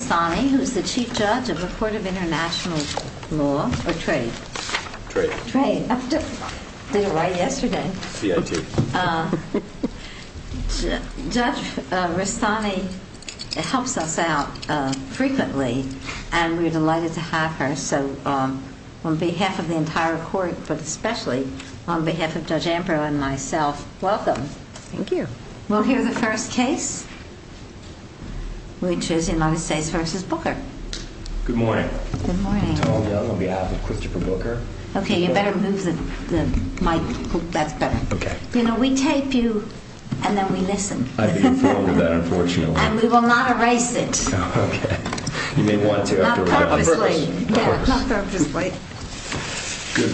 Rastani, who is the Chief Judge of the Court of International Law, or Trade? Trade. Trade. Did it right yesterday. CIT. Judge Rastani helps us out frequently, and we're delighted to have her. So, on behalf of the entire Court, but especially on behalf of Judge Ambrose and myself, welcome. Thank you. We'll hear the first case, which is United States v. Booker. Good morning. Good morning. Tom Young, on behalf of Christopher Booker. Okay, you better move the mic. That's better. Okay. You know, we tape you, and then we listen. I've been informed of that, unfortunately. And we will not erase it. Okay. You may want Good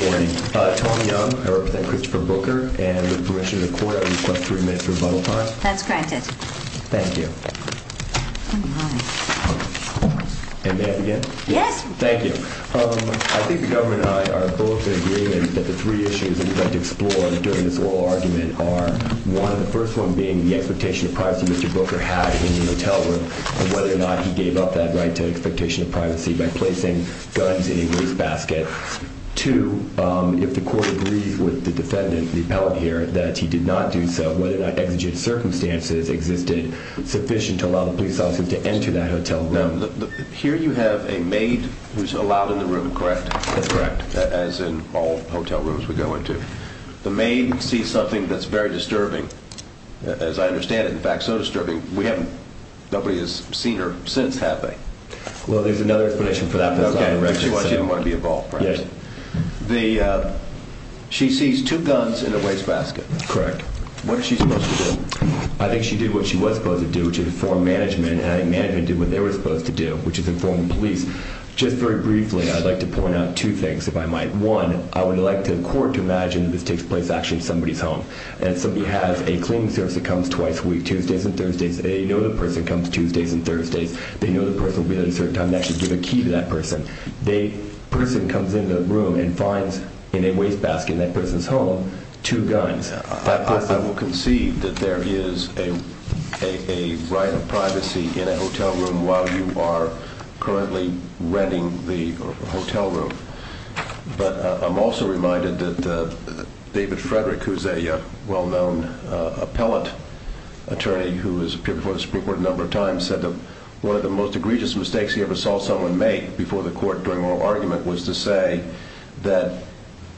morning. Tom Young, I represent Christopher Booker, and with permission of the Court, I request three minutes of rebuttal time. That's granted. Thank you. And may I begin? Yes. Thank you. I think the government and I are both in agreement that the three issues that we'd like to explore during this oral argument are, one, the first one being the expectation of privacy Mr. Booker had in the hotel room, and whether or not he gave up that right to the expectation of privacy by placing guns in a grease basket. Two, if the Court agrees with the defendant, the appellant here, that he did not do so, whether or not exigent circumstances existed sufficient to allow the police officers to enter that hotel room. No. Here you have a maid who's allowed in the room, correct? That's correct. As in all hotel rooms we go into. The maid sees something that's very disturbing. As I understand it, in fact, so Well, there's another explanation for that. She sees two guns in a waste basket. Correct. What is she supposed to do? I think she did what she was supposed to do, which is inform management, and management did what they were supposed to do, which is inform police. Just very briefly, I'd like to point out two things, if I might. One, I would like the Court to imagine that this takes place actually in somebody's home, and somebody has a cleaning service that comes twice a week, Tuesdays and Thursdays. They know the person comes Tuesdays and Thursdays. They know the person will be there at a certain time and actually give a key to that person. The person comes into the room and finds in a waste basket in that person's home, two guns. I will concede that there is a right of privacy in a hotel room while you are currently renting the hotel room. But I'm also reminded that David Frederick, who's a well-known appellate attorney who has appeared before the Supreme Court a number of times, said that one of the most egregious mistakes he ever saw someone make before the Court during oral argument was to say that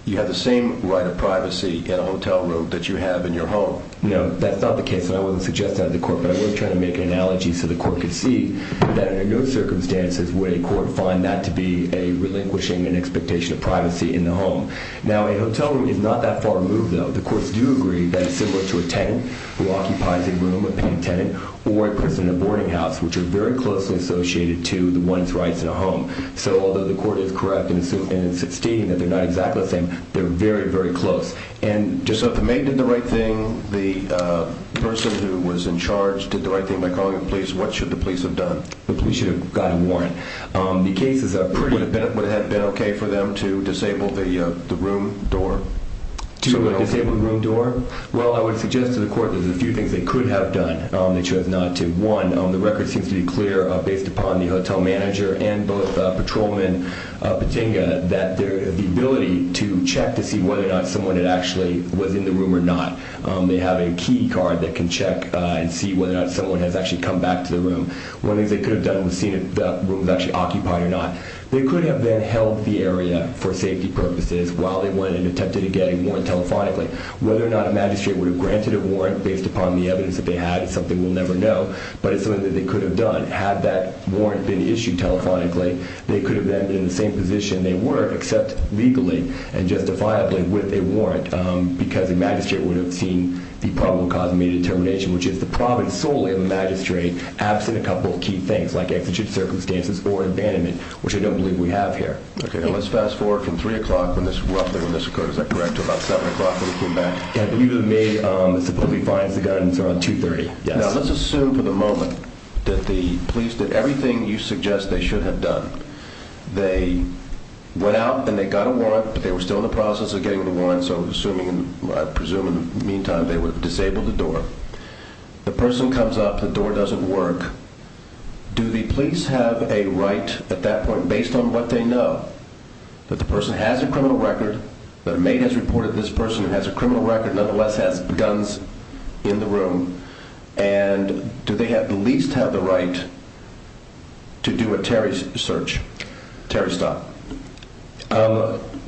you have the same right of privacy in a hotel room that you have in your home. No, that's not the case, and I wasn't suggesting that to the Court, but I was trying to make an analogy so the Court could see that under no circumstances would a court find that to be a relinquishing an expectation of privacy in the home. Now, a hotel room is not that far removed, though. The Courts do agree that it's similar to a tenant who occupies a room, a paying tenant, or a person in a boarding house, which are very closely associated to the one's rights in a home. So although the Court is correct in stating that they're not exactly the same, they're very, very close. So if the maid did the right thing, the person who was in charge did the right thing by calling the police, what should the police have done? The police should have gotten a warrant. Would it have been okay for them to disable the room door? To disable the room door? Well, I would suggest to the Court that there's a few things they could have done that she was not to. One, the record seems to be clear, based upon the hotel manager and both patrolman Patinga, that the ability to check to see whether or not someone had actually was in the room or not. They have a key card that can check and see whether or not someone has actually come back to the room. One of the things they could have done was seen if the room was actually occupied or not. They could have then held the area for safety purposes while they went and attempted to get a warrant telephonically. Whether or not a magistrate would have granted a warrant based upon the evidence that they had is something we'll never know, but it's something that they could have done had that warrant been issued telephonically. They could have then been in the same position they were except legally and justifiably with a warrant because a magistrate would have seen the probable cause of maid determination, which is the province solely of a magistrate absent a couple of key things like exigent circumstances or abandonment, which I don't believe we have here. Okay, let's fast forward from three o'clock when this roughly when this occurred, is that correct? About seven o'clock when we came back, you to me, um, it's a bully finds the guidance around 2 30. Let's assume for the moment that the police did everything you suggest they should have done. They went out and they got a warrant, but they were still in the process of getting the one. So assuming I presume in the meantime they were disabled the door, the person comes up, the door doesn't work. Do the police have a right at that point, based on what they know, that the person has a criminal record that made has reported this person who has a criminal record, nonetheless has guns in the room and do they have the least have the right to do a Terry's search? Terry, stop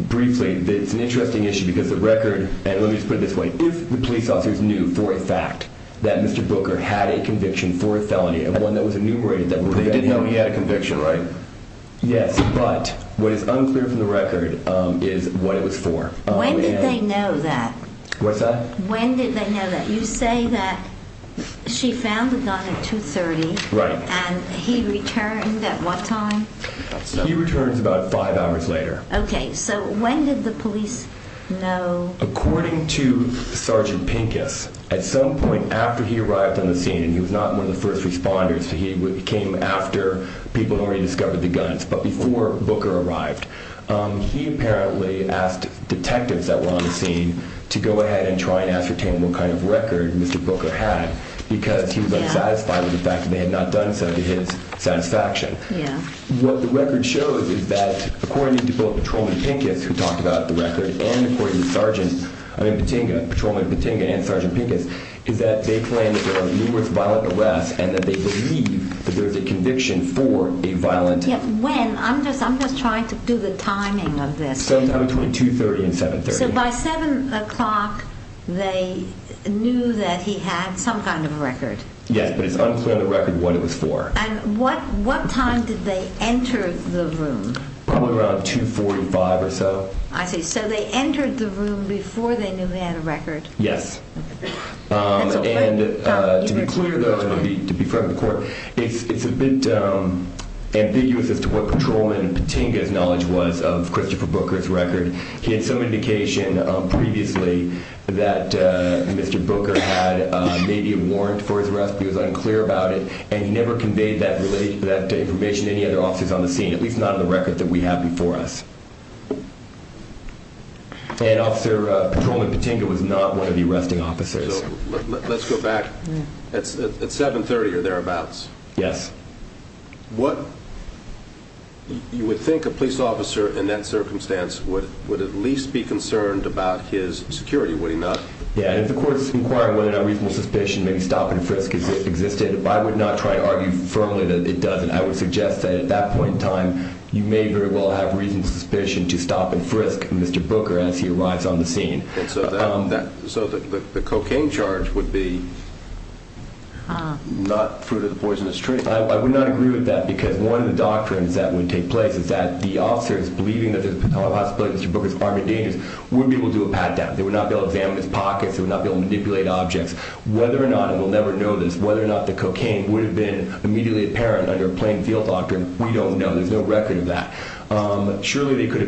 briefly. It's an interesting issue because the record and let me put it this way. If the police officers knew for a fact that Mr Booker had a conviction for a felony and one that was enumerated that they didn't know he had a conviction, right? Yes. But what is unclear from the record is what it was for. When did they know that? What's that? When did they know that you say that she found the gun at 2 30 and he returned at what time? He returns about five hours later. Okay. So when did the police know? According to Sergeant Pincus, at some point after he arrived on the scene and he was not one of the first responders, he came after people who rediscovered the guns. But before Booker arrived, he apparently asked detectives that were on the scene to go ahead and try and ascertain what kind of record Mr Booker had because he was unsatisfied with the fact that they had not done so to his satisfaction. What the record shows is that according to both patrolman Pincus who talked about the numerous violent arrests and that they believe that there is a conviction for a violent... When? I'm just trying to do the timing of this. Between 2 30 and 7 30. So by 7 o'clock they knew that he had some kind of record. Yes, but it's unclear on the record what it was for. And what time did they enter the room? Probably around 2 45 or so. I see. So they entered the room before they knew he had a record. Yes. And to be clear though, to be fair to the court, it's a bit ambiguous as to what patrolman Patinka's knowledge was of Christopher Booker's record. He had some indication previously that Mr. Booker had maybe a warrant for his arrest. He was unclear about it and he never conveyed that information to any other officers on the scene, at least not on the record that we have before us. And officer patrolman Patinka was not one of the arresting officers. Let's go back at 7 30 or thereabouts. Yes. You would think a police officer in that circumstance would at least be concerned about his security, would he not? Yeah, if the court is inquiring whether or not reasonable suspicion, maybe stop and frisk existed, I would not try to argue firmly that it doesn't. I would suggest that at that point in time you may very well have reasonable suspicion to stop and frisk Mr. Booker as he arrives on the scene. So the cocaine charge would be not fruit of the poisonous tree. I would not agree with that because one of the doctrines that would take place is that the officers believing that there's a possibility Mr. Booker's armed and dangerous would be able to do a pat down. They would not be able to examine his pockets, they would not be able to manipulate objects. Whether or not, and we'll never know this, whether or not the cocaine would have been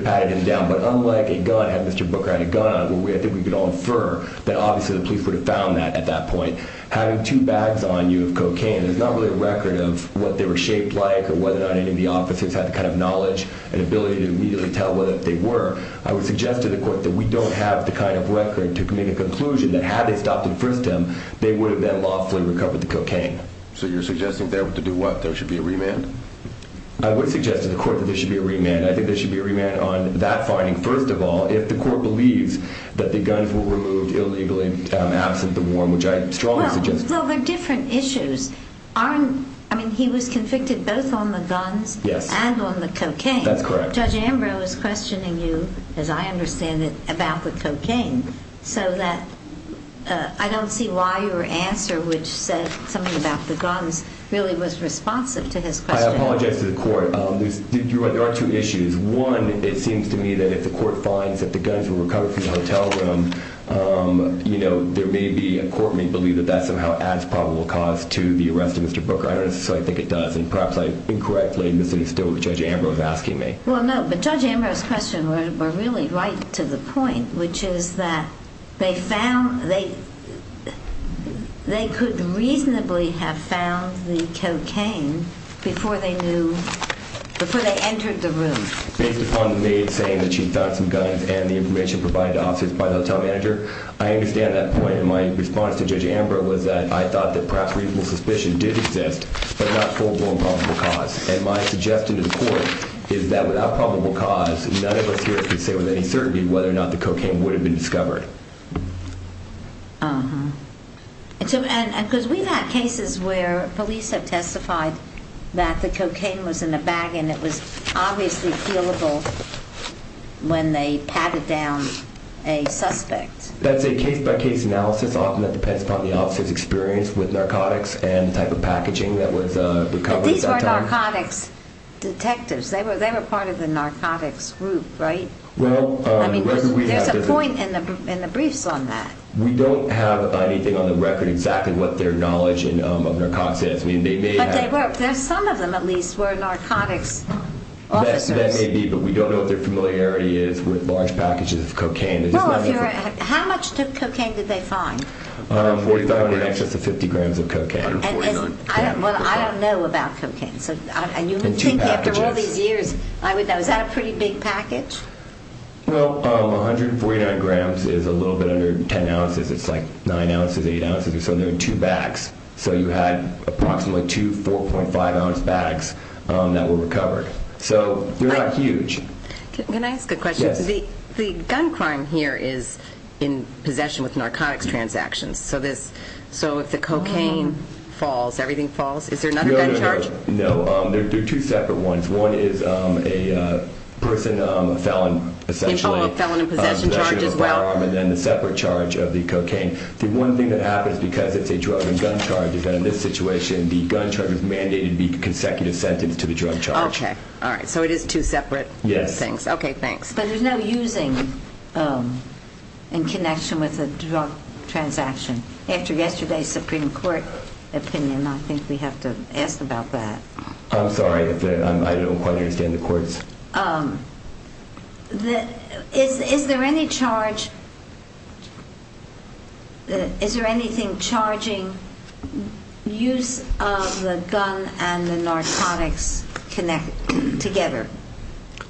patted him down. But unlike a gun, had Mr. Booker had a gun, I think we could all infer that obviously the police would have found that at that point. Having two bags on you of cocaine, there's not really a record of what they were shaped like or whether or not any of the officers had the kind of knowledge and ability to immediately tell whether they were. I would suggest to the court that we don't have the kind of record to make a conclusion that had they stopped and frisked him, they would have then lawfully recovered the cocaine. So you're suggesting that to do what? There should be a remand? I would suggest to the court that there should be a remand on that finding, first of all, if the court believes that the guns were removed illegally, absent the warrant, which I strongly suggest. Well, they're different issues. He was convicted both on the guns and on the cocaine. That's correct. Judge Ambrose is questioning you, as I understand it, about the cocaine. So I don't see why your answer, which said something about the guns, really was responsive to his question. I apologize to the court. There are two issues. One, it seems to me that if the court finds that the guns were recovered from the hotel room, there may be a court may believe that that somehow adds probable cause to the arrest of Mr. Booker. I don't necessarily think it does. And perhaps I incorrectly misinstill what Judge Ambrose is asking me. Well, no. But Judge Ambrose's question were really right to the point, which is that they could reasonably have found the cocaine before they knew, before they entered the room. Based upon the maid saying that she found some guns and the information provided to officers by the hotel manager, I understand that point. And my response to Judge Ambrose was that I thought that perhaps reasonable suspicion did exist, but not full-blown probable cause. And my suggestion to the court is that without probable cause, none of us here can say with any certainty whether or not the cocaine would have been discovered. Uh-huh. And because we've had cases where police have testified that the cocaine was in a bag and it was obviously feelable when they patted down a suspect. That's a case-by-case analysis. Often that depends upon the officer's experience with narcotics and the type of packaging that was recovered at that time. But these were narcotics detectives. They were part of the narcotics group, right? There's a point in the briefs on that. We don't have anything on the record exactly what their knowledge of narcotics is. But some of them at least were narcotics officers. That may be, but we don't know what their familiarity is with large packages of cocaine. Well, how much cocaine did they find? Over 45 grams. In excess of 50 grams of cocaine. I don't know about cocaine. In two packages. Is that a pretty big package? Well, 149 grams is a little bit under 10 ounces. It's like 9 ounces, 8 ounces. So there were two bags. So you had approximately two 4.5 ounce bags that were recovered. So they're not huge. Can I ask a question? Yes. The gun crime here is in possession with narcotics transactions. So if the cocaine falls, everything falls? Is there another gun charge? No, there are two separate ones. One is a person, a felon, essentially. Oh, a felon in possession charge as well. And then the separate charge of the cocaine. The one thing that happens because it's a drug and gun charge, is that in this situation the gun charge is mandated to be a consecutive sentence to the drug charge. Okay, all right. So it is two separate things. Yes. Okay, thanks. But there's no using in connection with a drug transaction. After yesterday's Supreme Court opinion, I think we have to ask about that. I'm sorry. I don't quite understand the courts. Is there any charge? Is there anything charging use of the gun and the narcotics connected together?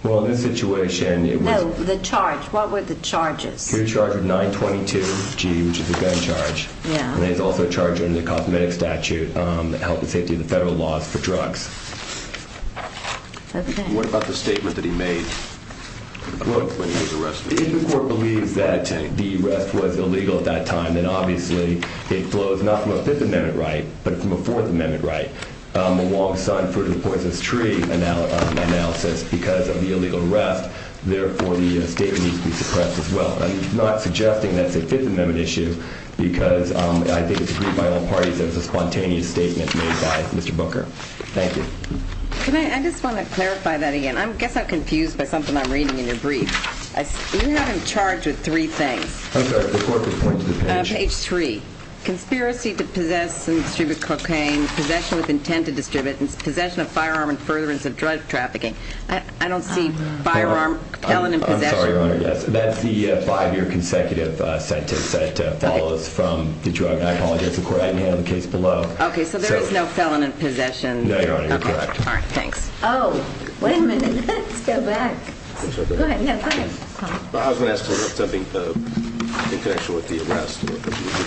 Well, in this situation it was. No, the charge. What were the charges? He was charged with 922-G, which is a gun charge. Yeah. And he was also charged under the cosmetic statute, health and safety of the federal laws for drugs. What about the statement that he made when he was arrested? If the court believes that the arrest was illegal at that time, then obviously it flows not from a Fifth Amendment right, but from a Fourth Amendment right. I'm not suggesting that it's a Fifth Amendment issue because I think it's agreed by all parties that it's a spontaneous statement made by Mr. Booker. Thank you. Can I just want to clarify that again? I guess I'm confused by something I'm reading in your brief. You have him charged with three things. I'm sorry. The court could point to the page. Page three. Conspiracy to possess and distribute cocaine. Possession with intent to distribute. Possession of firearm and furtherance of drug trafficking. I don't see firearm, felon in possession. I'm sorry, Your Honor, yes. That's the five-year consecutive sentence that follows from the drug. I apologize, the court hadn't handled the case below. Okay, so there is no felon in possession. No, Your Honor, you're correct. All right, thanks. Oh, wait a minute. Let's go back. Go ahead. No, go ahead. I was going to ask something in connection with the arrest. You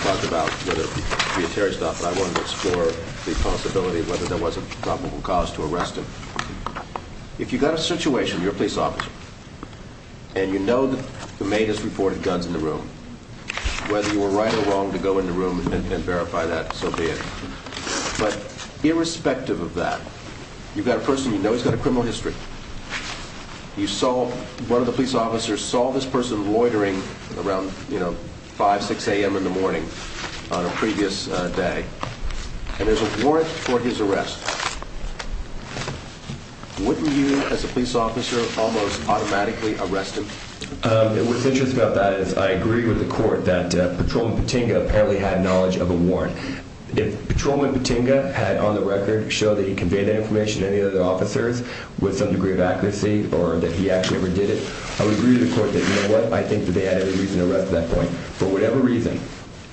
talked about whether the attorney stopped by one to explore the possibility of whether there was a probable cause to arrest him. If you've got a situation, you're a police officer, and you know the maid has reported guns in the room, whether you were right or wrong to go in the room and verify that, so be it. But irrespective of that, you've got a person you know who's got a criminal history. You saw one of the police officers saw this person loitering around 5, 6 a.m. in the morning on a previous day, and there's a warrant for his arrest. Wouldn't you, as a police officer, almost automatically arrest him? What's interesting about that is I agree with the court that Patrolman Patinga apparently had knowledge of a warrant. If Patrolman Patinga had, on the record, showed that he conveyed that information to any of the other officers with some degree of accuracy or that he actually ever did it, I would agree with the court that, you know what, I think that they had every reason to arrest at that point. For whatever reason,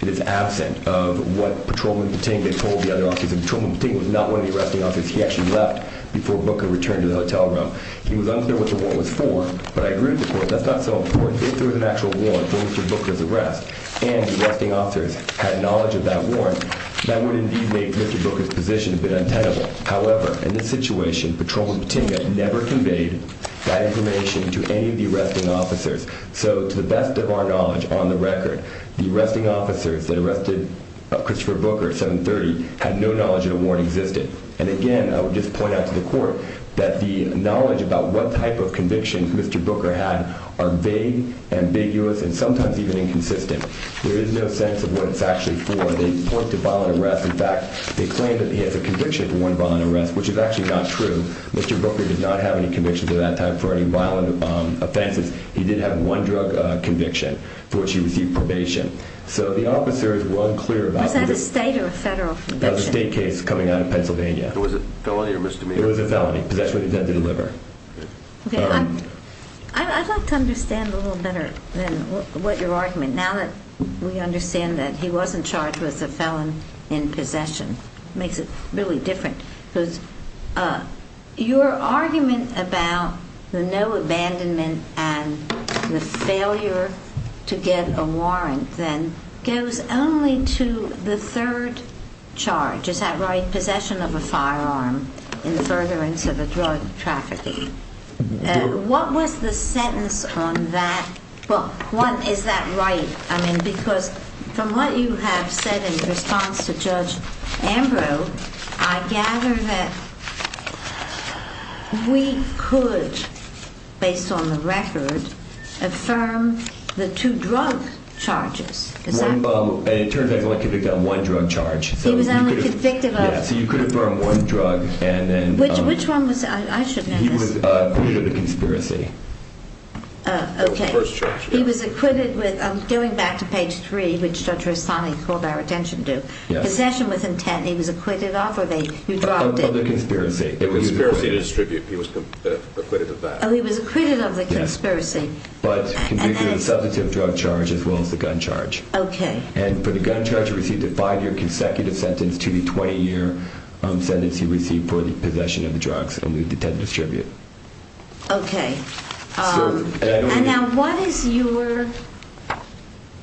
it is absent of what Patrolman Patinga told the other officers. Patrolman Patinga was not one of the arresting officers. He actually left before Booker returned to the hotel room. He was unclear what the warrant was for, but I agree with the court that's not so important. If there was an actual warrant for Mr. Booker's arrest and the arresting officers had knowledge of that warrant, that would indeed make Mr. Booker's position a bit untenable. However, in this situation, Patrolman Patinga never conveyed that information to any of the arresting officers. So, to the best of our knowledge, on the record, the arresting officers that arrested Christopher Booker at 7.30 had no knowledge that a warrant existed. And, again, I would just point out to the court that the knowledge about what type of convictions Mr. Booker had are vague, ambiguous, and sometimes even inconsistent. There is no sense of what it's actually for. They point to violent arrests. In fact, they claim that he has a conviction for one violent arrest, which is actually not true. Mr. Booker did not have any convictions at that time for any violent offenses. He did have one drug conviction for which he received probation. So, the officers were unclear about this. Was that a state or a federal conviction? It was a state case coming out of Pennsylvania. It was a felony or misdemeanor? It was a felony. Possession with intent to deliver. Okay. I'd like to understand a little better what your argument, now that we understand that he wasn't charged with a felon in possession. It makes it really different. Your argument about the no abandonment and the failure to get a warrant then goes only to the third charge. Is that right? Possession of a firearm in furtherance of a drug trafficking. What was the sentence on that? Well, one, is that right? I mean, because from what you have said in response to Judge Ambrose, I gather that we could, based on the record, affirm the two drug charges. It turns out he was only convicted on one drug charge. He was only convicted of? Yeah, so you could affirm one drug. Which one was it? I should know this. He was convicted of a conspiracy. Oh, the first charge. He was acquitted with, I'm going back to page three, which Judge Rossani called our attention to. Possession with intent. He was acquitted of, or you dropped it? Of the conspiracy. Conspiracy to distribute. He was acquitted of that. Oh, he was acquitted of the conspiracy. But convicted of a substantive drug charge as well as the gun charge. Okay. And for the gun charge, he received a five-year consecutive sentence to the 20-year sentence he received for the possession of the drugs and the intent to distribute. Okay. And now what is your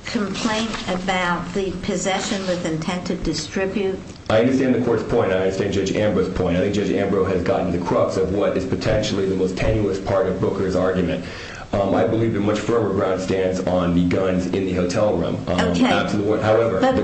complaint about the possession with intent to distribute? I understand the court's point. I understand Judge Ambrose's point. I think Judge Ambrose has gotten to the crux of what is potentially the most tenuous part of Booker's argument. I believe the much firmer ground stands on the guns in the hotel room. Okay. However. For the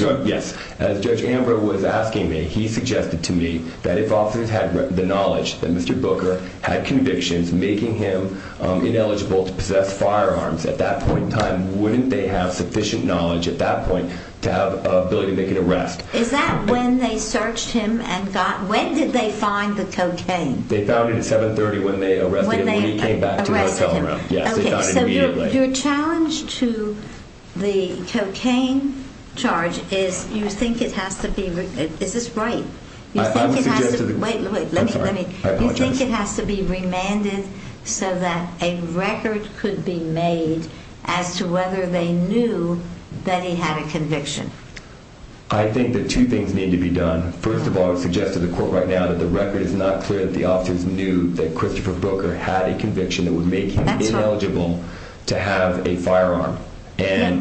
drug, yes. As Judge Ambrose was asking me, he suggested to me that if officers had the knowledge that Mr. Booker had convictions making him ineligible to possess firearms at that point in time, wouldn't they have sufficient knowledge at that point to have the ability to make an arrest? Is that when they searched him and got, when did they find the cocaine? They found it at 730 when they arrested him when he came back to the hotel room. When they arrested him. Yes, they found it immediately. Your challenge to the cocaine charge is you think it has to be, is this right? You think it has to be remanded so that a record could be made as to whether they knew that he had a conviction? I think that two things need to be done. First of all, I would suggest to the court right now that the record is not clear that the officers knew that Christopher Booker had a conviction that would make him ineligible to have a firearm. I'm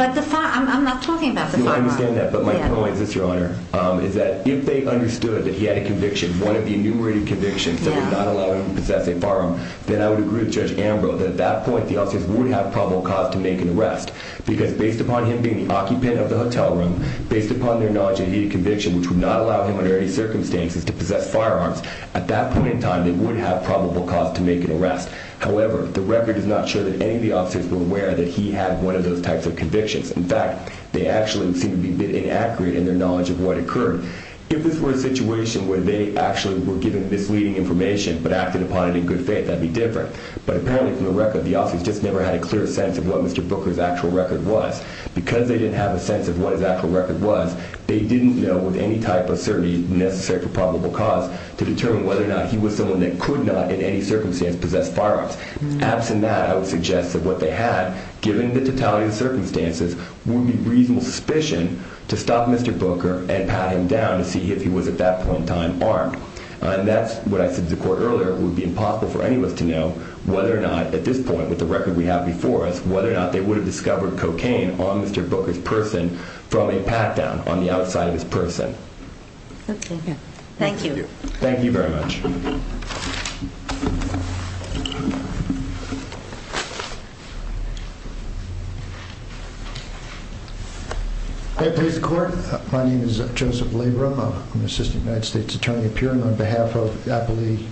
not talking about the firearm. I understand that, but my point is this, Your Honor, is that if they understood that he had a conviction, one of the enumerated convictions that would not allow him to possess a firearm, then I would agree with Judge Ambrose that at that point the officers would have probable cause to make an arrest. Because based upon him being the occupant of the hotel room, based upon their knowledge that he had a conviction which would not allow him under any circumstances to possess firearms, at that point in time they would have probable cause to make an arrest. However, the record is not sure that any of the officers were aware that he had one of those types of convictions. In fact, they actually seem to be a bit inaccurate in their knowledge of what occurred. If this were a situation where they actually were given misleading information but acted upon it in good faith, that would be different. But apparently from the record, the officers just never had a clear sense of what Mr. Booker's actual record was. Because they didn't have a sense of what his actual record was, they didn't know with any type of certainty necessary for probable cause to determine whether or not he was someone that could not in any circumstance possess firearms. Absent that, I would suggest that what they had, given the totality of the circumstances, would be reasonable suspicion to stop Mr. Booker and pat him down to see if he was at that point in time armed. And that's what I said to the court earlier, it would be impossible for anyone to know whether or not, at this point with the record we have before us, whether or not they would have discovered cocaine on Mr. Booker's person from a pat-down on the outside of his person. Okay, thank you. Thank you very much. Thank you. My name is Joseph Labrum, I'm an assistant United States attorney appearing on behalf of I believe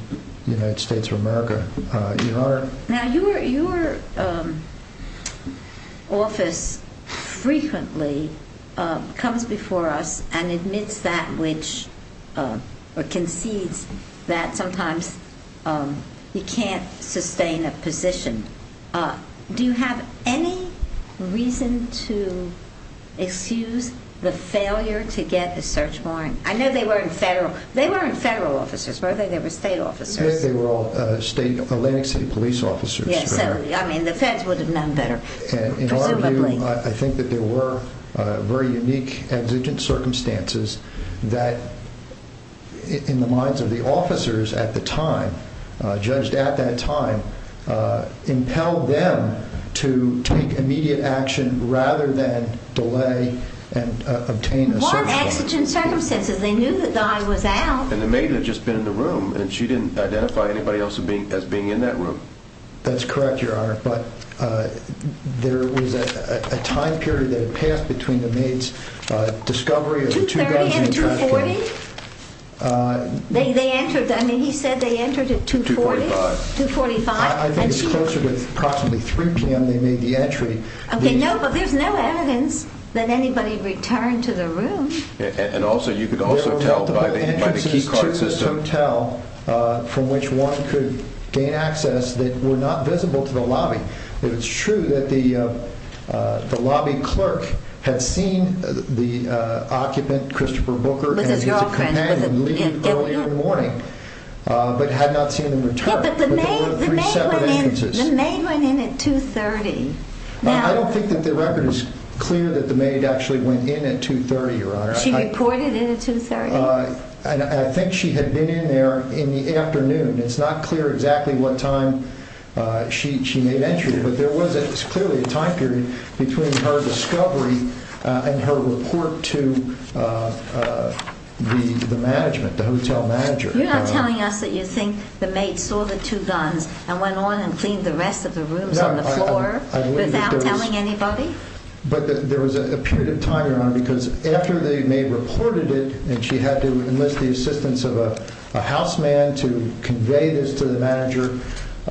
the United States of America. Now your office frequently comes before us and admits that which, or concedes that sometimes you can't sustain a position. Do you have any reason to excuse the failure to get a search warrant? I know they weren't federal, they weren't federal officers were they? They were state officers. They were all Atlantic City police officers. I mean the feds would have known better, presumably. I think that there were very unique exigent circumstances that, in the minds of the officers at the time, judged at that time, impelled them to take immediate action rather than delay and obtain a search warrant. What exigent circumstances? They knew the guy was out. And the maid had just been in the room, and she didn't identify anybody else as being in that room. That's correct, your honor. But there was a time period that had passed between the maid's discovery of the 2-bedroom trash can. 230 and 240? They entered, I mean he said they entered at 240? 245. 245? I think it's closer to approximately 3 p.m. they made the entry. Okay, no, but there's no evidence that anybody returned to the room. And you could also tell by the key card system. There were multiple entrances to this hotel from which one could gain access that were not visible to the lobby. It's true that the lobby clerk had seen the occupant, Christopher Booker, and his companion leave earlier in the morning, but had not seen them return. Yeah, but the maid went in at 230. I don't think that the record is clear that the maid actually went in at 230, your honor. She reported in at 230? I think she had been in there in the afternoon. It's not clear exactly what time she made entry, but there was clearly a time period between her discovery and her report to the management, the hotel manager. You're not telling us that you think the maid saw the two guns and went on and cleaned the rest of the rooms on the floor without telling anybody? But there was a period of time, your honor, because after the maid reported it and she had to enlist the assistance of a houseman to convey this to the manager,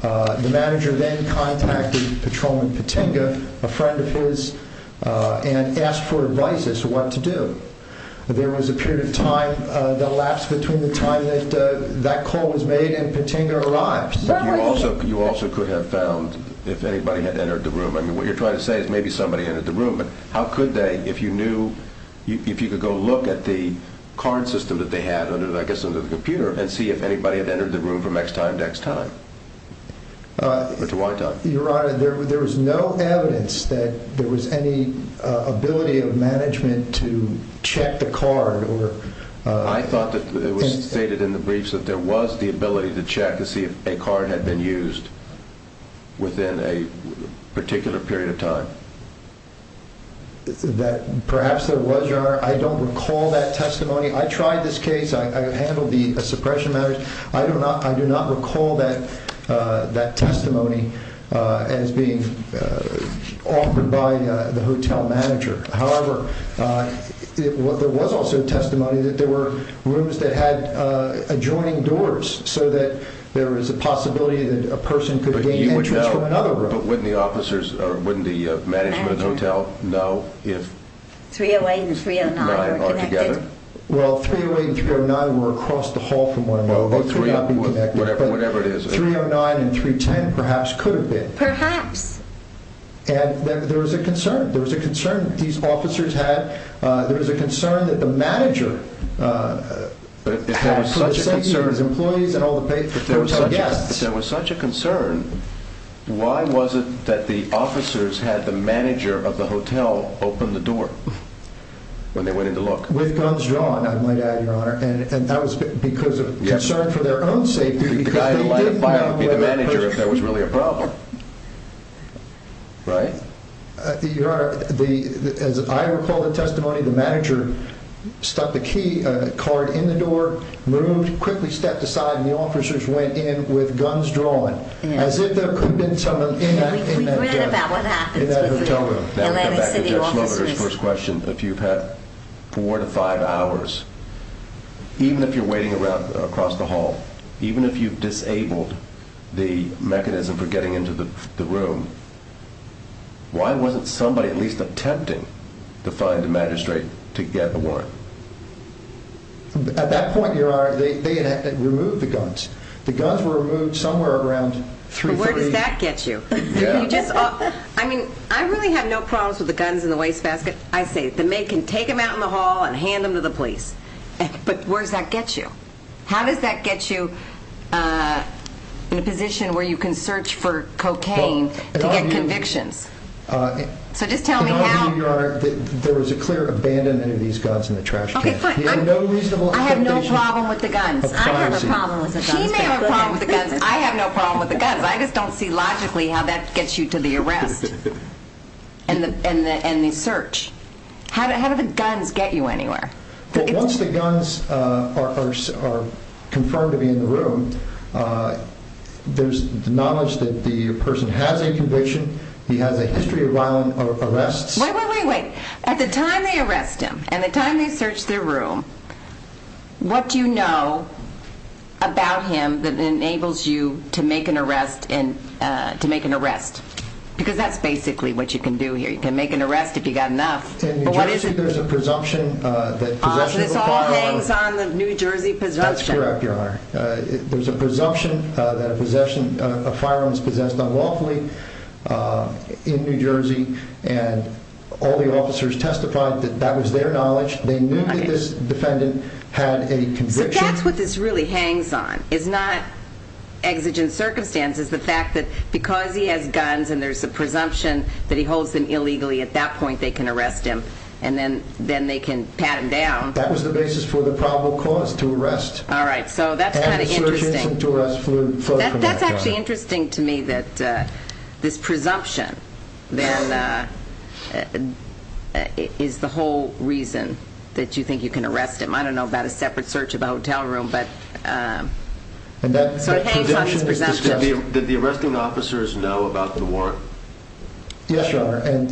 the manager then contacted patrolman Patenga, a friend of his, and asked for advice as to what to do. There was a period of time that lapsed between the time that that call was made and Patenga arrived. But you also could have found if anybody had entered the room. I mean, what you're trying to say is maybe somebody entered the room, but how could they? If you knew, if you could go look at the card system that they had under, I guess, under the computer and see if anybody had entered the room from X time to X time or to Y time? Your honor, there was no evidence that there was any ability of management to check the card. I thought that it was stated in the briefs that there was the ability to check to see if a card had been used within a particular period of time. That perhaps there was, your honor. I don't recall that testimony. I tried this case. I handled the suppression matters. I do not recall that testimony as being offered by the hotel manager. However, there was also testimony that there were rooms that had adjoining doors so that there was a possibility that a person could gain entrance from another room. But wouldn't the officers, or wouldn't the management of the hotel know if three-oh-eight and three-oh-nine are connected? Well, three-oh-eight and three-oh-nine were across the hall from one another. They could not be connected. Whatever it is. Three-oh-nine and three-ten perhaps could have been. Perhaps. And there was a concern. There was a concern that these officers had. There was a concern that the manager had for the safety of his employees and all the hotel guests. If there was such a concern, why was it that the officers had the manager of the hotel open the door when they went in to look? With guns drawn, I might add, Your Honor. And that was because of concern for their own safety. The guy in the line of fire would be the manager if there was really a problem. Right? Your Honor, as I recall the testimony, the manager stuck the key card in the door, moved, quickly stepped aside, and the officers went in with guns drawn. As if there could have been someone in that hotel room. We read about what happens with the Atlantic City officers. Going back to Judge Smollett's first question, if you've had four to five hours, even if you're waiting across the hall, even if you've disabled the mechanism for getting into the room, why wasn't somebody at least attempting to find a magistrate to get a warrant? At that point, Your Honor, they had had to remove the guns. The guns were removed somewhere around 330. Where does that get you? I mean, I really have no problems with the guns in the wastebasket. I say, the maid can take them out in the hall and hand them to the police. But where does that get you? How does that get you in a position where you can search for cocaine to get convictions? So just tell me how... Your Honor, there was a clear abandonment of these guns in the trash can. I have no problem with the guns. I have a problem with the guns. He may have a problem with the guns, I have no problem with the guns. I just don't see logically how that gets you to the arrest and the search. How do the guns get you anywhere? Well, once the guns are confirmed to be in the room, there's the knowledge that the person has a conviction, he has a history of violent arrests. Wait, wait, wait, wait. At the time they arrest him, and the time they search their room, what do you know about him that enables you to make an arrest? Because that's basically what you can do here. You can make an arrest if you've got enough. In New Jersey, there's a presumption that possession of a firearm... So this all hangs on the New Jersey presumption. That's correct, Your Honor. There's a presumption that a firearm was possessed unlawfully in New Jersey, and all the officers testified that that was their knowledge. They knew that this defendant had a conviction. So that's what this really hangs on. It's not exigent circumstances, the fact that because he has guns and there's a presumption that he holds them illegally, at that point they can arrest him. And then they can pat him down. That was the basis for the probable cause to arrest. All right, so that's kind of interesting. That's actually interesting to me that this presumption then is the whole reason that you think you can arrest him. I don't know about a separate search of a hotel room, but it sort of hangs on this presumption. Did the arresting officers know about the warrant? Yes, Your Honor. At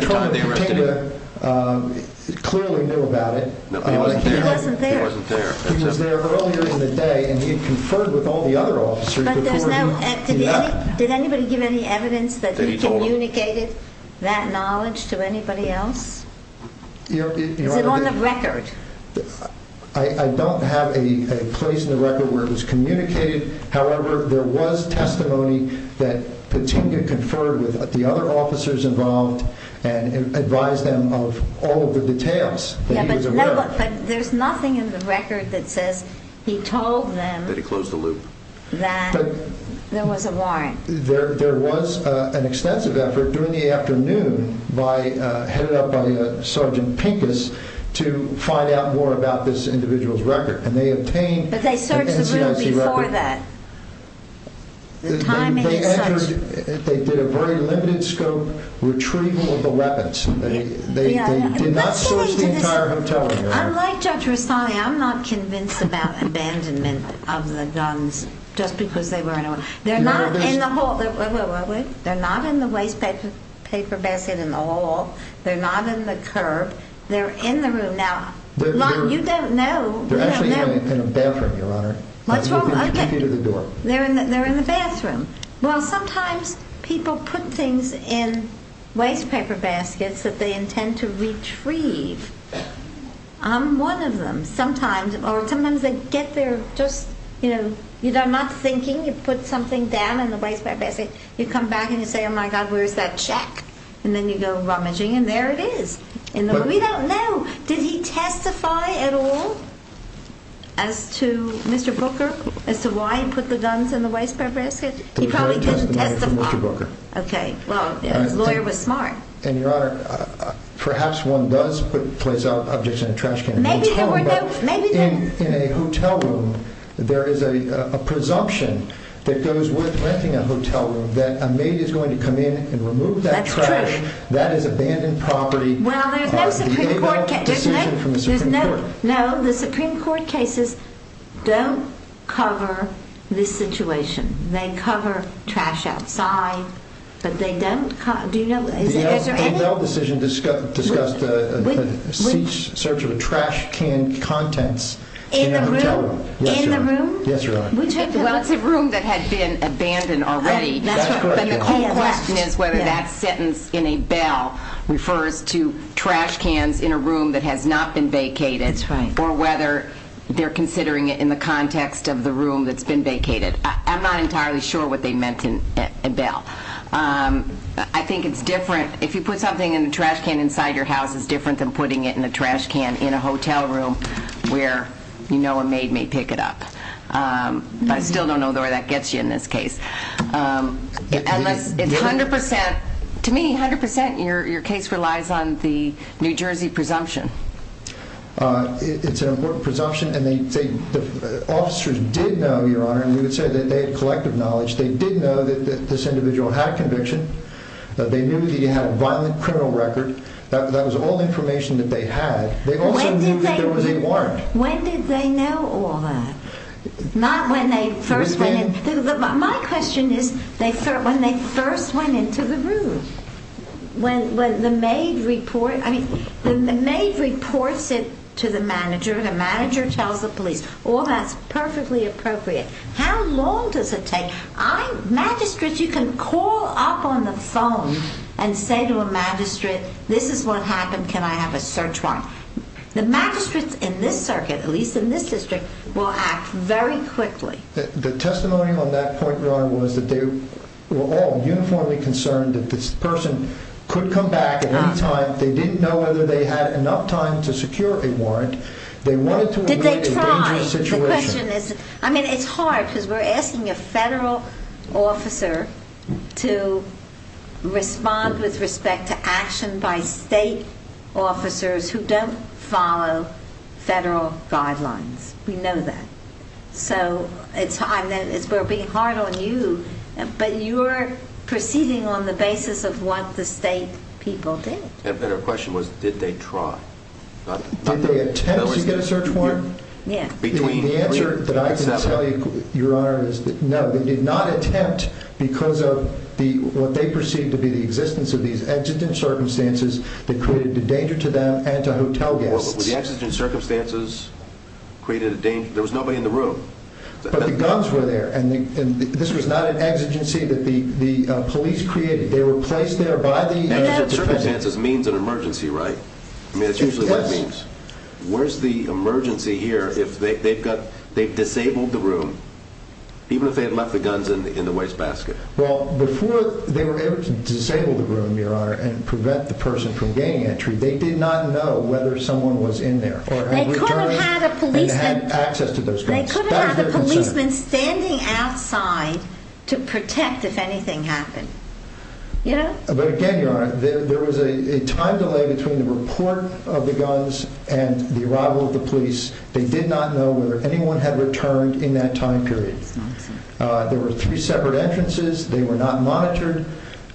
the time they arrested him? Clearly knew about it. He wasn't there. He was there earlier in the day, and he conferred with all the other officers before he left. Did anybody give any evidence that he communicated that knowledge to anybody else? Is it on the record? I don't have a place in the record where it was communicated. However, there was testimony that Patinga conferred with the other officers involved and advised them of all of the details that he was aware of. But there's nothing in the record that says he told them that there was a warrant. There was an extensive effort during the afternoon headed up by Sergeant Pincus to find out more about this individual's record. But they searched the room before that. They did a very limited scope retrieval of the weapons. They did not search the entire hotel room, Your Honor. Unlike Judge Rastani, I'm not convinced about abandonment of the guns just because they were in a hotel room. They're not in the waste paper basket in the hall. They're not in the curb. They're in the room. Now, you don't know. They're actually in a bathroom, Your Honor. What's wrong? They're in the bathroom. Well, sometimes people put things in waste paper baskets that they intend to retrieve. I'm one of them. Sometimes they get there just, you know, you're not thinking. You put something down in the waste paper basket. You come back and you say, oh, my God, where's that check? And then you go rummaging, and there it is. We don't know. Did he testify at all as to Mr. Booker, as to why he put the guns in the waste paper basket? He probably didn't testify. Okay. Well, his lawyer was smart. And, Your Honor, perhaps one does place objects in a trash can. In a hotel room, there is a presumption that goes with renting a hotel room that a maid is going to come in and remove that trash. That's true. That is abandoned property. Well, there's no Supreme Court case. There's no decision from the Supreme Court. No, the Supreme Court cases don't cover this situation. They cover trash outside, but they don't – do you know? The Elmdale decision discussed the search of a trash can contents in a hotel room. In the room? Yes, Your Honor. Well, it's a room that had been abandoned already. That's correct. But your question is whether that sentence in a bail refers to trash cans in a room that has not been vacated. That's right. Or whether they're considering it in the context of the room that's been vacated. I'm not entirely sure what they meant in bail. I think it's different – if you put something in a trash can inside your house, it's different than putting it in a trash can in a hotel room where you know a maid may pick it up. I still don't know where that gets you in this case. Unless it's 100% – to me, 100% your case relies on the New Jersey presumption. It's an important presumption, and the officers did know, Your Honor, and we would say that they had collective knowledge. They did know that this individual had conviction. They knew that he had a violent criminal record. That was all information that they had. They also knew that there was a warrant. When did they know all that? Not when they first went in. My question is when they first went into the room. When the maid reports it to the manager, the manager tells the police. All that's perfectly appropriate. How long does it take? Magistrates, you can call up on the phone and say to a magistrate, this is what happened, can I have a search warrant? The magistrates in this circuit, at least in this district, will act very quickly. The testimony on that point, Your Honor, was that they were all uniformly concerned that this person could come back at any time. They didn't know whether they had enough time to secure a warrant. They wanted to avoid a dangerous situation. Did they try? The question is – I mean, it's hard because we're asking a federal officer to respond with respect to action by state officers who don't follow federal guidelines. We know that. We're being hard on you, but you're proceeding on the basis of what the state people did. And our question was, did they try? Did they attempt to get a search warrant? The answer that I can tell you, Your Honor, is no. They did not attempt because of what they perceived to be the existence of these exigent circumstances that created a danger to them and to hotel guests. Were the exigent circumstances created a danger? There was nobody in the room. But the guns were there, and this was not an exigency that the police created. They were placed there by the defendant. Exigent circumstances means an emergency, right? Yes. I mean, it's usually what it means. Where's the emergency here if they've disabled the room, even if they had left the guns in the wastebasket? Well, before they were able to disable the room, Your Honor, and prevent the person from gaining entry, they did not know whether someone was in there or had returned and had access to those guns. They could have had a policeman standing outside to protect if anything happened. But again, Your Honor, there was a time delay between the report of the guns and the arrival of the police. They did not know whether anyone had returned in that time period. That's not true. There were three separate entrances. They were not monitored.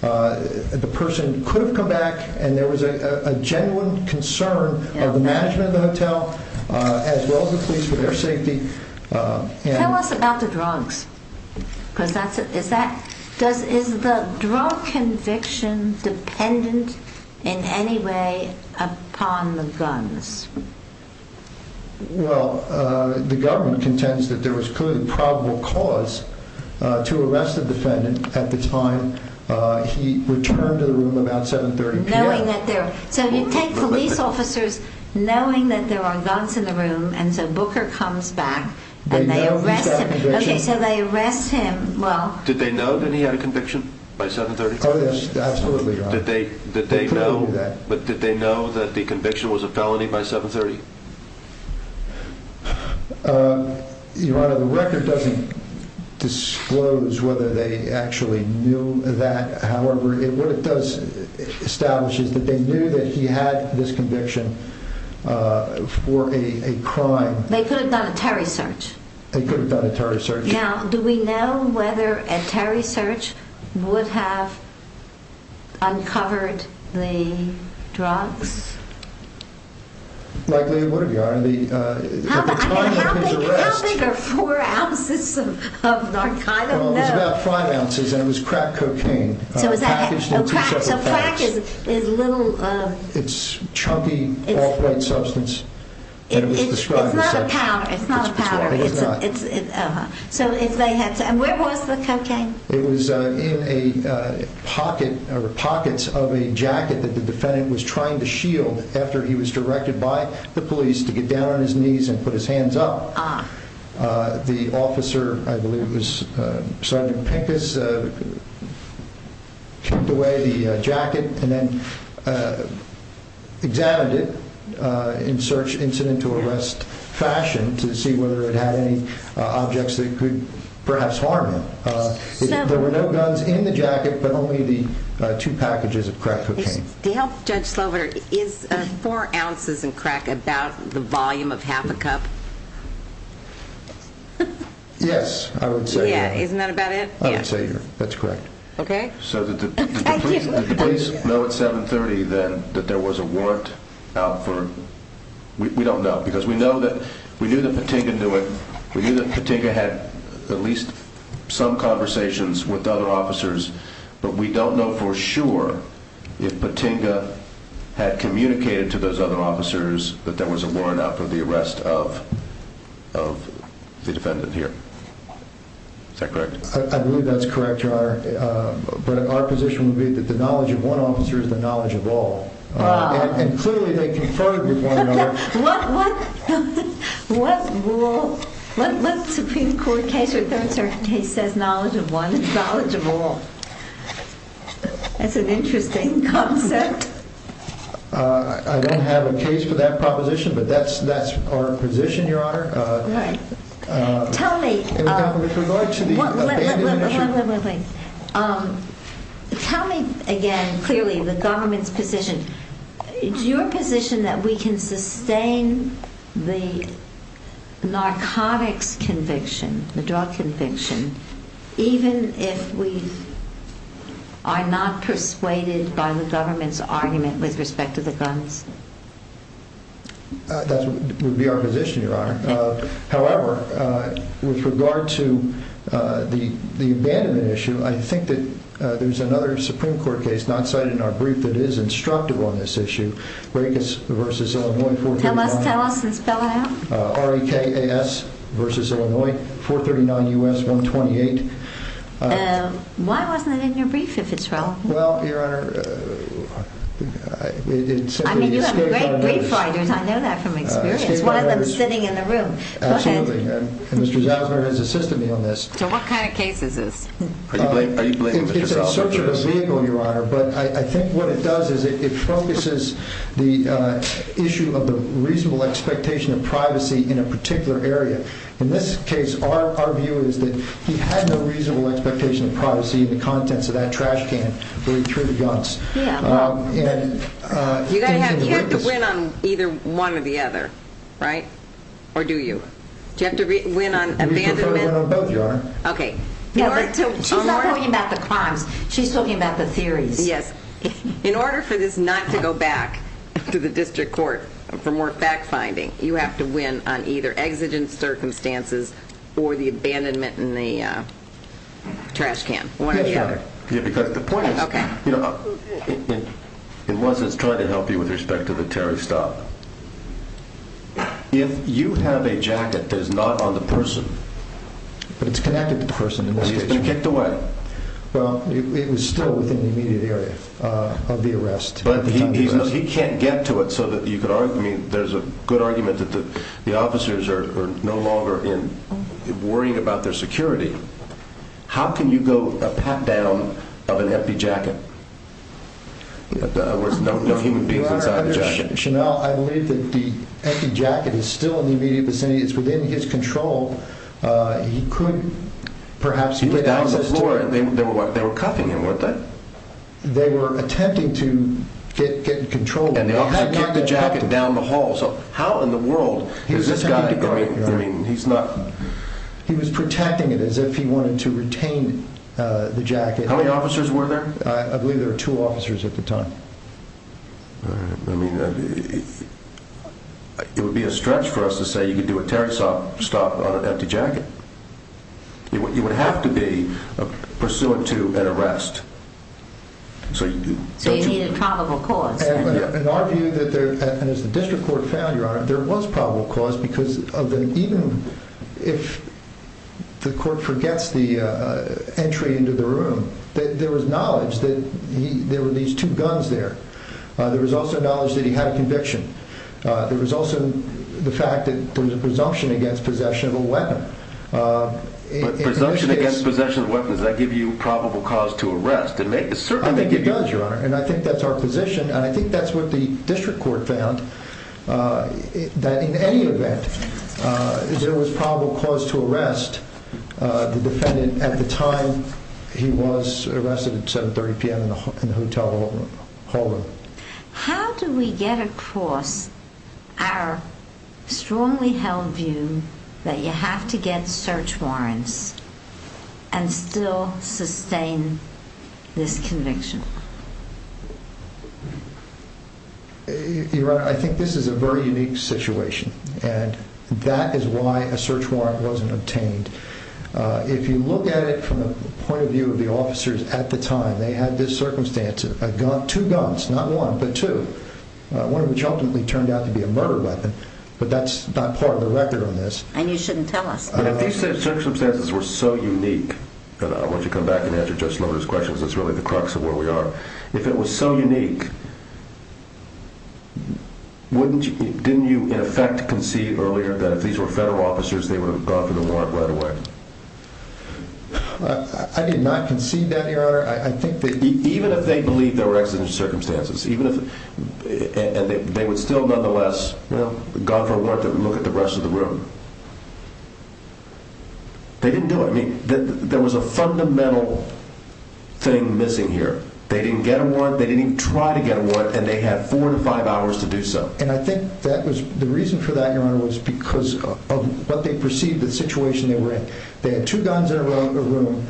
The person could have come back, and there was a genuine concern of the management of the hotel as well as the police for their safety. Tell us about the drugs. Is the drug conviction dependent in any way upon the guns? Well, the government contends that there was clearly probable cause to arrest the defendant at the time he returned to the room about 7.30 p.m. So you take police officers knowing that there are guns in the room, and so Booker comes back, and they arrest him. They know he's got a conviction. Okay, so they arrest him. Did they know that he had a conviction by 7.30 p.m.? Oh, yes, absolutely, Your Honor. But did they know that the conviction was a felony by 7.30? Your Honor, the record doesn't disclose whether they actually knew that. However, what it does establish is that they knew that he had this conviction for a crime. They could have done a Terry search. They could have done a Terry search. Now, do we know whether a Terry search would have uncovered the drugs? Likely it would have, Your Honor. At the time of his arrest. How big are four ounces of Narcan? I don't know. Well, it was about five ounces, and it was crack cocaine packaged in two separate bags. So crack is little… It's chunky, off-white substance, and it was described as such. It's not a powder. It's not a powder. So where was the cocaine? It was in pockets of a jacket that the defendant was trying to shield after he was directed by the police to get down on his knees and put his hands up. Ah. The officer, I believe it was Sergeant Pincus, kept away the jacket and then examined it in search incident to arrest fashion to see whether it had any objects that could perhaps harm him. There were no guns in the jacket, but only the two packages of crack cocaine. To help Judge Slover, is four ounces of crack about the volume of half a cup? Yes, I would say. Yeah, isn't that about it? I would say, Your Honor. That's correct. Okay. So did the police know at 730 then that there was a warrant out for… We don't know because we know that Patinga knew it. We knew that Patinga had at least some conversations with other officers, but we don't know for sure if Patinga had communicated to those other officers that there was a warrant out for the arrest of the defendant here. Is that correct? I believe that's correct, Your Honor. But our position would be that the knowledge of one officer is the knowledge of all. Ah. And clearly they conferred with one another. What rule, what Supreme Court case or Third Circuit case says knowledge of one is knowledge of all? That's an interesting concept. I don't have a case for that proposition, but that's our position, Your Honor. Right. Tell me… With regard to the… Wait, wait, wait. Tell me again clearly the government's position. Is your position that we can sustain the narcotics conviction, the drug conviction, even if we are not persuaded by the government's argument with respect to the guns? That would be our position, Your Honor. However, with regard to the abandonment issue, I think that there's another Supreme Court case not cited in our brief that is instructive on this issue, Rekas v. Illinois 439… Tell us, tell us and spell it out. R-E-K-A-S v. Illinois 439 U.S. 128. Why wasn't it in your brief, if it's relevant? Well, Your Honor, it simply is… I mean, you have great brief writers. I know that from experience, one of them sitting in the room. Absolutely. And Mr. Zausner has assisted me on this. So what kind of case is this? Are you blaming Mr. Zausner for this? It's a search of a vehicle, Your Honor. But I think what it does is it focuses the issue of the reasonable expectation of privacy in a particular area. In this case, our view is that he had no reasonable expectation of privacy in the contents of that trash can through the guns. Yeah. And… You have to win on either one or the other, right? Or do you? Do you have to win on abandonment? I win on both, Your Honor. Okay. She's not talking about the crimes. She's talking about the theories. Yes. In order for this not to go back to the district court for more fact-finding, you have to win on either exigent circumstances or the abandonment in the trash can, one or the other. Yes, Your Honor. Because the point is… Okay. It wasn't trying to help you with respect to the Terry stop. If you have a jacket that is not on the person… But it's connected to the person in this case. But he's been kicked away. Well, it was still within the immediate area of the arrest. But he can't get to it so that you could argue. I mean, there's a good argument that the officers are no longer worrying about their security. How can you go a pat-down of an empty jacket where there's no human being inside the jacket? Your Honor, I believe that the empty jacket is still in the immediate vicinity. It's within his control. He could perhaps get out of the floor. He was down on the floor. They were cuffing him, weren't they? They were attempting to get control. And the officers kicked the jacket down the hall. So how in the world is this guy going? I mean, he's not… He was protecting it as if he wanted to retain the jacket. How many officers were there? I believe there were two officers at the time. All right. I mean, it would be a stretch for us to say you could do a tear stop on an empty jacket. You would have to be pursuant to an arrest. So you need a probable cause. In our view, and as the district court found, Your Honor, there was probable cause because even if the court forgets the entry into the room, there was knowledge that there were these two guns there. There was also knowledge that he had a conviction. There was also the fact that there was a presumption against possession of a weapon. But presumption against possession of a weapon, does that give you probable cause to arrest? It certainly may give you… I think it does, Your Honor. And I think that's our position. And I think that's what the district court found, that in any event, there was probable cause to arrest the defendant at the time he was arrested at 7.30 p.m. in the hotel hall room. How do we get across our strongly held view that you have to get search warrants and still sustain this conviction? Your Honor, I think this is a very unique situation, and that is why a search warrant wasn't obtained. If you look at it from the point of view of the officers at the time, they had this circumstance of two guns, not one, but two, one of which ultimately turned out to be a murder weapon, but that's not part of the record on this. And you shouldn't tell us. These circumstances were so unique, and I want you to come back and answer Judge Lohner's questions, because that's really the crux of where we are. If it was so unique, didn't you in effect concede earlier that if these were federal officers, they would have gone for the warrant right away? I did not concede that, Your Honor. Even if they believed there were exigent circumstances, and they would still nonetheless have gone for a warrant, look at the rest of the room. They didn't do it. There was a fundamental thing missing here. They didn't get a warrant, they didn't try to get a warrant, and they had four to five hours to do so. And I think the reason for that, Your Honor, was because of what they perceived the situation they were in. They had two guns in a room.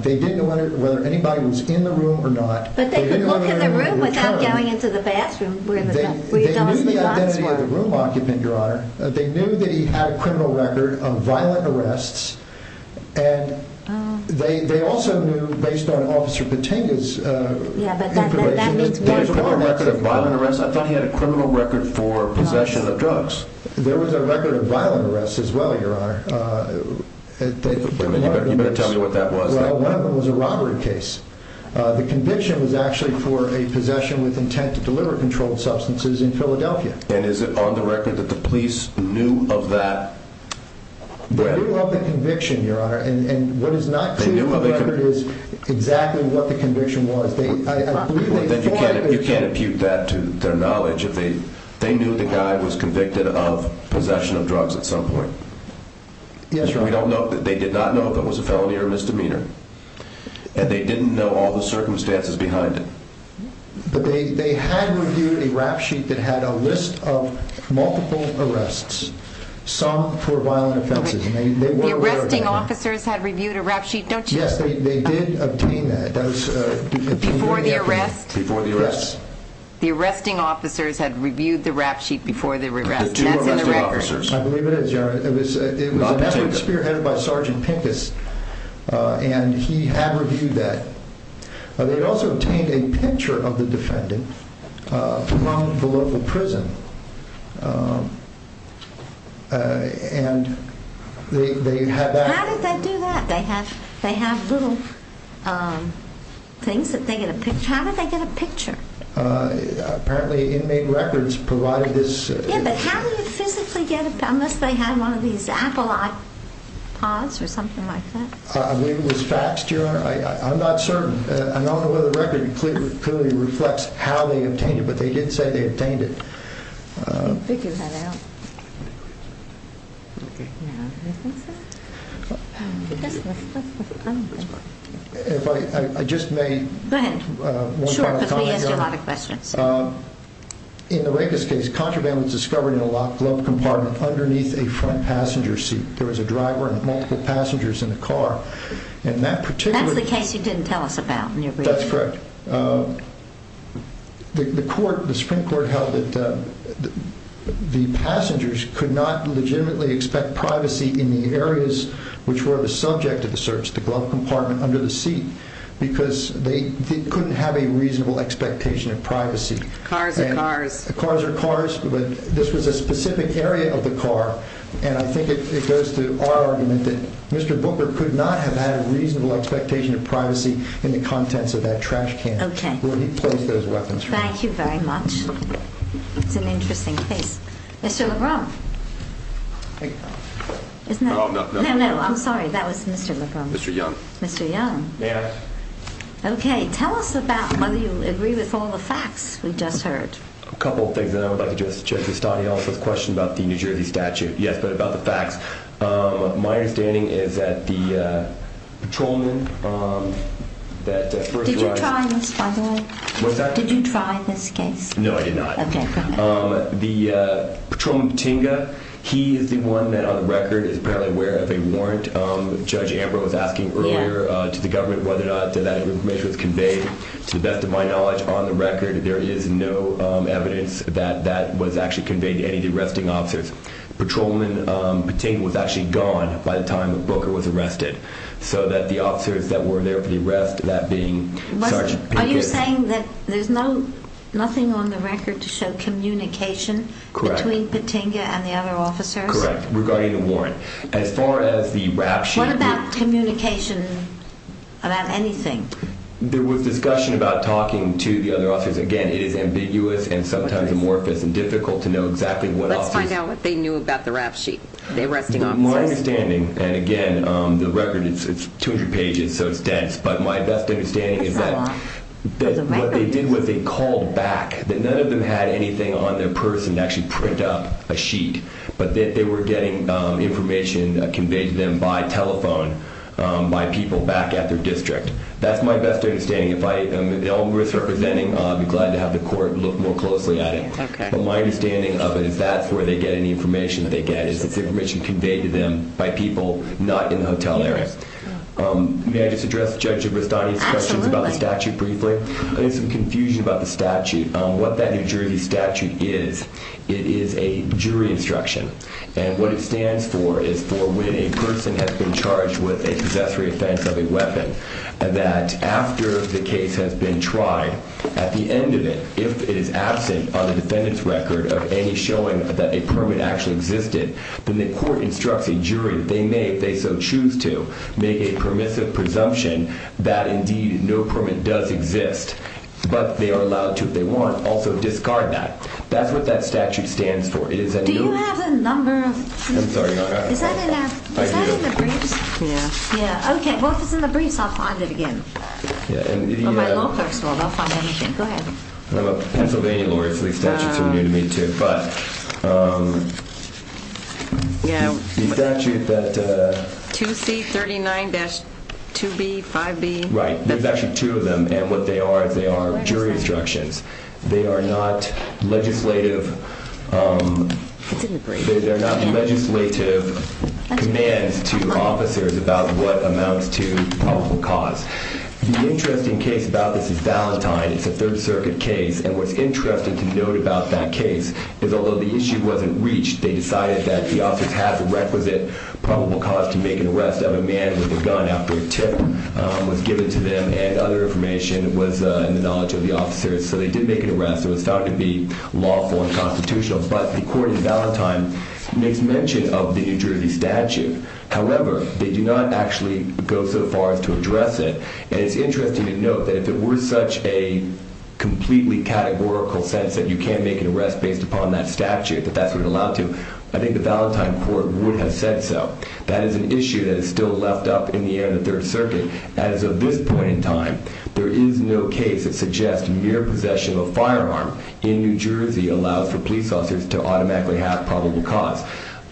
They didn't know whether anybody was in the room or not. But they could look in the room without going into the bathroom where the guns were. They knew the identity of the room occupant, Your Honor. They knew that he had a criminal record of violent arrests, and they also knew, based on Officer Patenga's information, that there was a record of violent arrests. I thought he had a criminal record for possession of drugs. There was a record of violent arrests as well, Your Honor. You better tell me what that was. Well, one of them was a robbery case. The conviction was actually for a possession with intent to deliver controlled substances in Philadelphia. And is it on the record that the police knew of that? They knew of the conviction, Your Honor, and what is not true of the record is exactly what the conviction was. You can't impute that to their knowledge. They knew the guy was convicted of possession of drugs at some point. Yes, Your Honor. They did not know if it was a felony or a misdemeanor, and they didn't know all the circumstances behind it. But they had reviewed a rap sheet that had a list of multiple arrests, some for violent offenses, and they were aware of that. The arresting officers had reviewed a rap sheet, don't you think? Yes, they did obtain that. Before the arrest? Before the arrest. Yes. The arresting officers had reviewed the rap sheet before the arrest, and that's in the record. The two arresting officers. I believe it is, Your Honor. It was an effort spearheaded by Sergeant Pincus, and he had reviewed that. They also obtained a picture of the defendant from the local prison, and they had that. How did they do that? They have little things that they get a picture. How did they get a picture? Apparently, inmate records provided this. Yeah, but how do you physically get a picture unless they had one of these I believe it was faxed, Your Honor. I'm not certain. I don't know whether the record clearly reflects how they obtained it, but they did say they obtained it. I can figure that out. Okay. Do you think so? If I just may. Go ahead. Sure, because we asked you a lot of questions. In the Recus case, contraband was discovered in a locked glove compartment underneath a front passenger seat. There was a driver and multiple passengers in the car, That's the case you didn't tell us about. That's correct. The Supreme Court held that the passengers could not legitimately expect privacy in the areas which were the subject of the search, the glove compartment under the seat, because they couldn't have a reasonable expectation of privacy. Cars are cars. Cars are cars, but this was a specific area of the car, and I think it goes to our argument that Mr. Booker could not have had a reasonable expectation of privacy in the contents of that trash can where he placed those weapons. Thank you very much. It's an interesting case. Mr. Lebrun. No, I'm sorry. That was Mr. Lebrun. Mr. Young. Mr. Young. May I? Okay. Tell us about whether you agree with all the facts we just heard. A couple of things, and then I would like to address Judge Custodio's question about the New Jersey statute. Yes, but about the facts. My understanding is that the patrolman that first arrived— Did you try this, by the way? What's that? Did you try this case? No, I did not. Okay, perfect. The patrolman, Batinga, he is the one that on the record is apparently aware of a warrant. Judge Amber was asking earlier to the government whether or not that information was conveyed. To the best of my knowledge, on the record, there is no evidence that that was actually conveyed to any of the arresting officers. Patrolman Batinga was actually gone by the time that Booker was arrested, so that the officers that were there for the arrest, that being Sgt. Pincus— Are you saying that there's nothing on the record to show communication between Batinga and the other officers? Correct, regarding the warrant. As far as the rap sheet— What about communication about anything? There was discussion about talking to the other officers. Again, it is ambiguous and sometimes amorphous and difficult to know exactly what officers— Let's find out what they knew about the rap sheet, the arresting officers. My understanding, and again, the record is 200 pages, so it's dense, but my best understanding is that what they did was they called back. None of them had anything on their person to actually print up a sheet, but they were getting information conveyed to them by telephone by people back at their district. That's my best understanding. If I am at all worth representing, I'd be glad to have the court look more closely at it. But my understanding of it is that's where they get any information that they get. It's information conveyed to them by people not in the hotel area. May I just address Judge Gibristani's questions about the statute briefly? There's some confusion about the statute. What that New Jersey statute is, it is a jury instruction, and what it stands for is for when a person has been charged with a possessory offense of a weapon, that after the case has been tried, at the end of it, if it is absent on the defendant's record of any showing that a permit actually existed, then the court instructs a jury. They may, if they so choose to, make a permissive presumption that indeed no permit does exist, but they are allowed to, if they want, also discard that. That's what that statute stands for. Do you have a number? I'm sorry. Is that in the briefs? Yeah. Okay, well, if it's in the briefs, I'll find it again. Or my law clerks will. They'll find everything. Go ahead. I'm a Pennsylvania lawyer, so these statutes are new to me, too. But the statute that... 2C39-2B, 5B. Right. There's actually two of them, and what they are is they are jury instructions. They are not legislative... It's in the briefs. They're not legislative commands to officers about what amounts to probable cause. The interesting case about this is Valentine. It's a Third Circuit case, and what's interesting to note about that case is, although the issue wasn't reached, they decided that the officers had the requisite probable cause to make an arrest of a man with a gun after a tip was given to them and other information was in the knowledge of the officers. So they did make an arrest. It was found to be lawful and constitutional. But the court in Valentine makes mention of the injurity statute. However, they do not actually go so far as to address it. And it's interesting to note that if it were such a completely categorical sentence that you can't make an arrest based upon that statute, that that's what it allowed to, I think the Valentine court would have said so. That is an issue that is still left up in the air in the Third Circuit. As of this point in time, there is no case that suggests mere possession of a firearm in New Jersey allows for police officers to automatically have probable cause.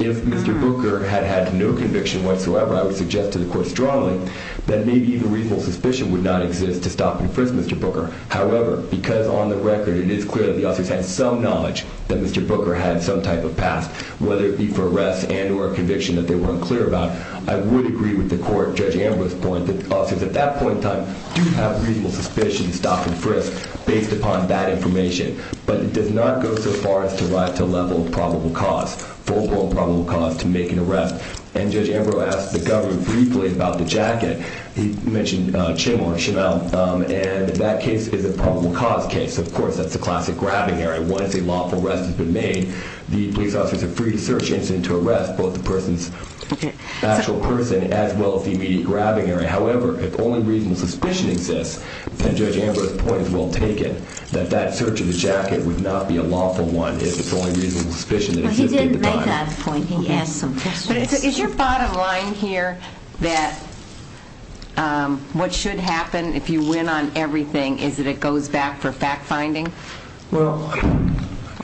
If Mr. Booker had had no conviction whatsoever, I would suggest to the court strongly that maybe the reasonable suspicion would not exist to stop and frisk Mr. Booker. However, because on the record it is clear that the officers had some knowledge that Mr. Booker had some type of past, whether it be for arrests and or a conviction that they weren't clear about, I would agree with the court, Judge Ambrose's point, that officers at that point in time do have reasonable suspicion to stop and frisk based upon that information. But it does not go so far as to rise to the level of probable cause, full-blown probable cause, to make an arrest. And Judge Ambrose asked the government briefly about the jacket. He mentioned Chamel, and that case is a probable cause case. Of course, that's the classic grabbing area. Once a lawful arrest has been made, the police officer is a free search incident to arrest both the person's actual person as well as the immediate grabbing area. However, if only reasonable suspicion exists, then Judge Ambrose's point is well taken, that that search of the jacket would not be a lawful one if it's only reasonable suspicion that exists at the time. He didn't make that point. He asked some questions. But is your bottom line here that what should happen if you win on everything is that it goes back for fact-finding? Or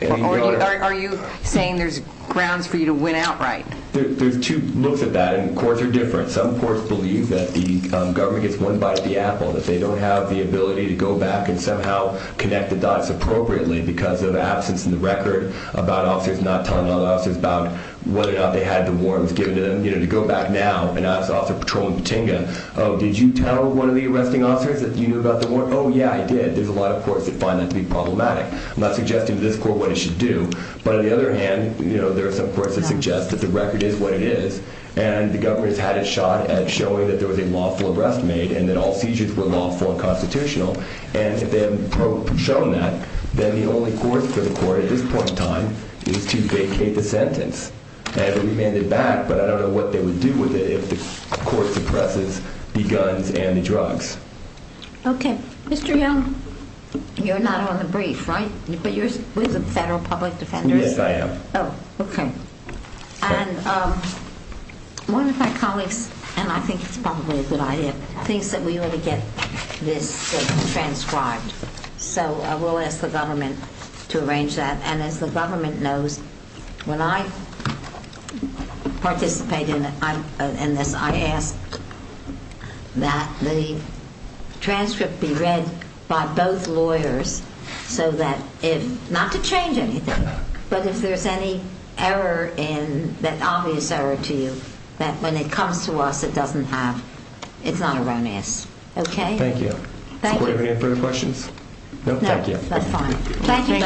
are you saying there's grounds for you to win outright? There's two looks at that, and courts are different. Some courts believe that the government gets one bite of the apple, that they don't have the ability to go back and somehow connect the dots appropriately because of absence in the record about officers not telling other officers about whether or not they had the warrants given to them. You know, to go back now and ask Officer Patroling Patinga, oh, did you tell one of the arresting officers that you knew about the warrant? Oh, yeah, I did. There's a lot of courts that find that to be problematic. I'm not suggesting to this court what it should do. But on the other hand, there are some courts that suggest that the record is what it is, and the government's had a shot at showing that there was a lawful arrest made and that all seizures were lawful and constitutional. And if they haven't shown that, then the only course for the court at this point in time is to vacate the sentence. And we may end it back, but I don't know what they would do with it if the court suppresses the guns and the drugs. Okay. Mr. Young, you're not on the brief, right? But you're with the Federal Public Defenders? Yes, I am. Oh, okay. And one of my colleagues, and I think it's probably a good idea, thinks that we ought to get this transcribed. So we'll ask the government to arrange that. And as the government knows, when I participate in this, I ask that the transcript be read by both lawyers, not to change anything, but if there's any obvious error to you that when it comes to us it doesn't have, it's not erroneous. Okay? Thank you. Does the court have any further questions? No, thank you. That's fine. Thank you. Thank you. It's interesting. Thanks.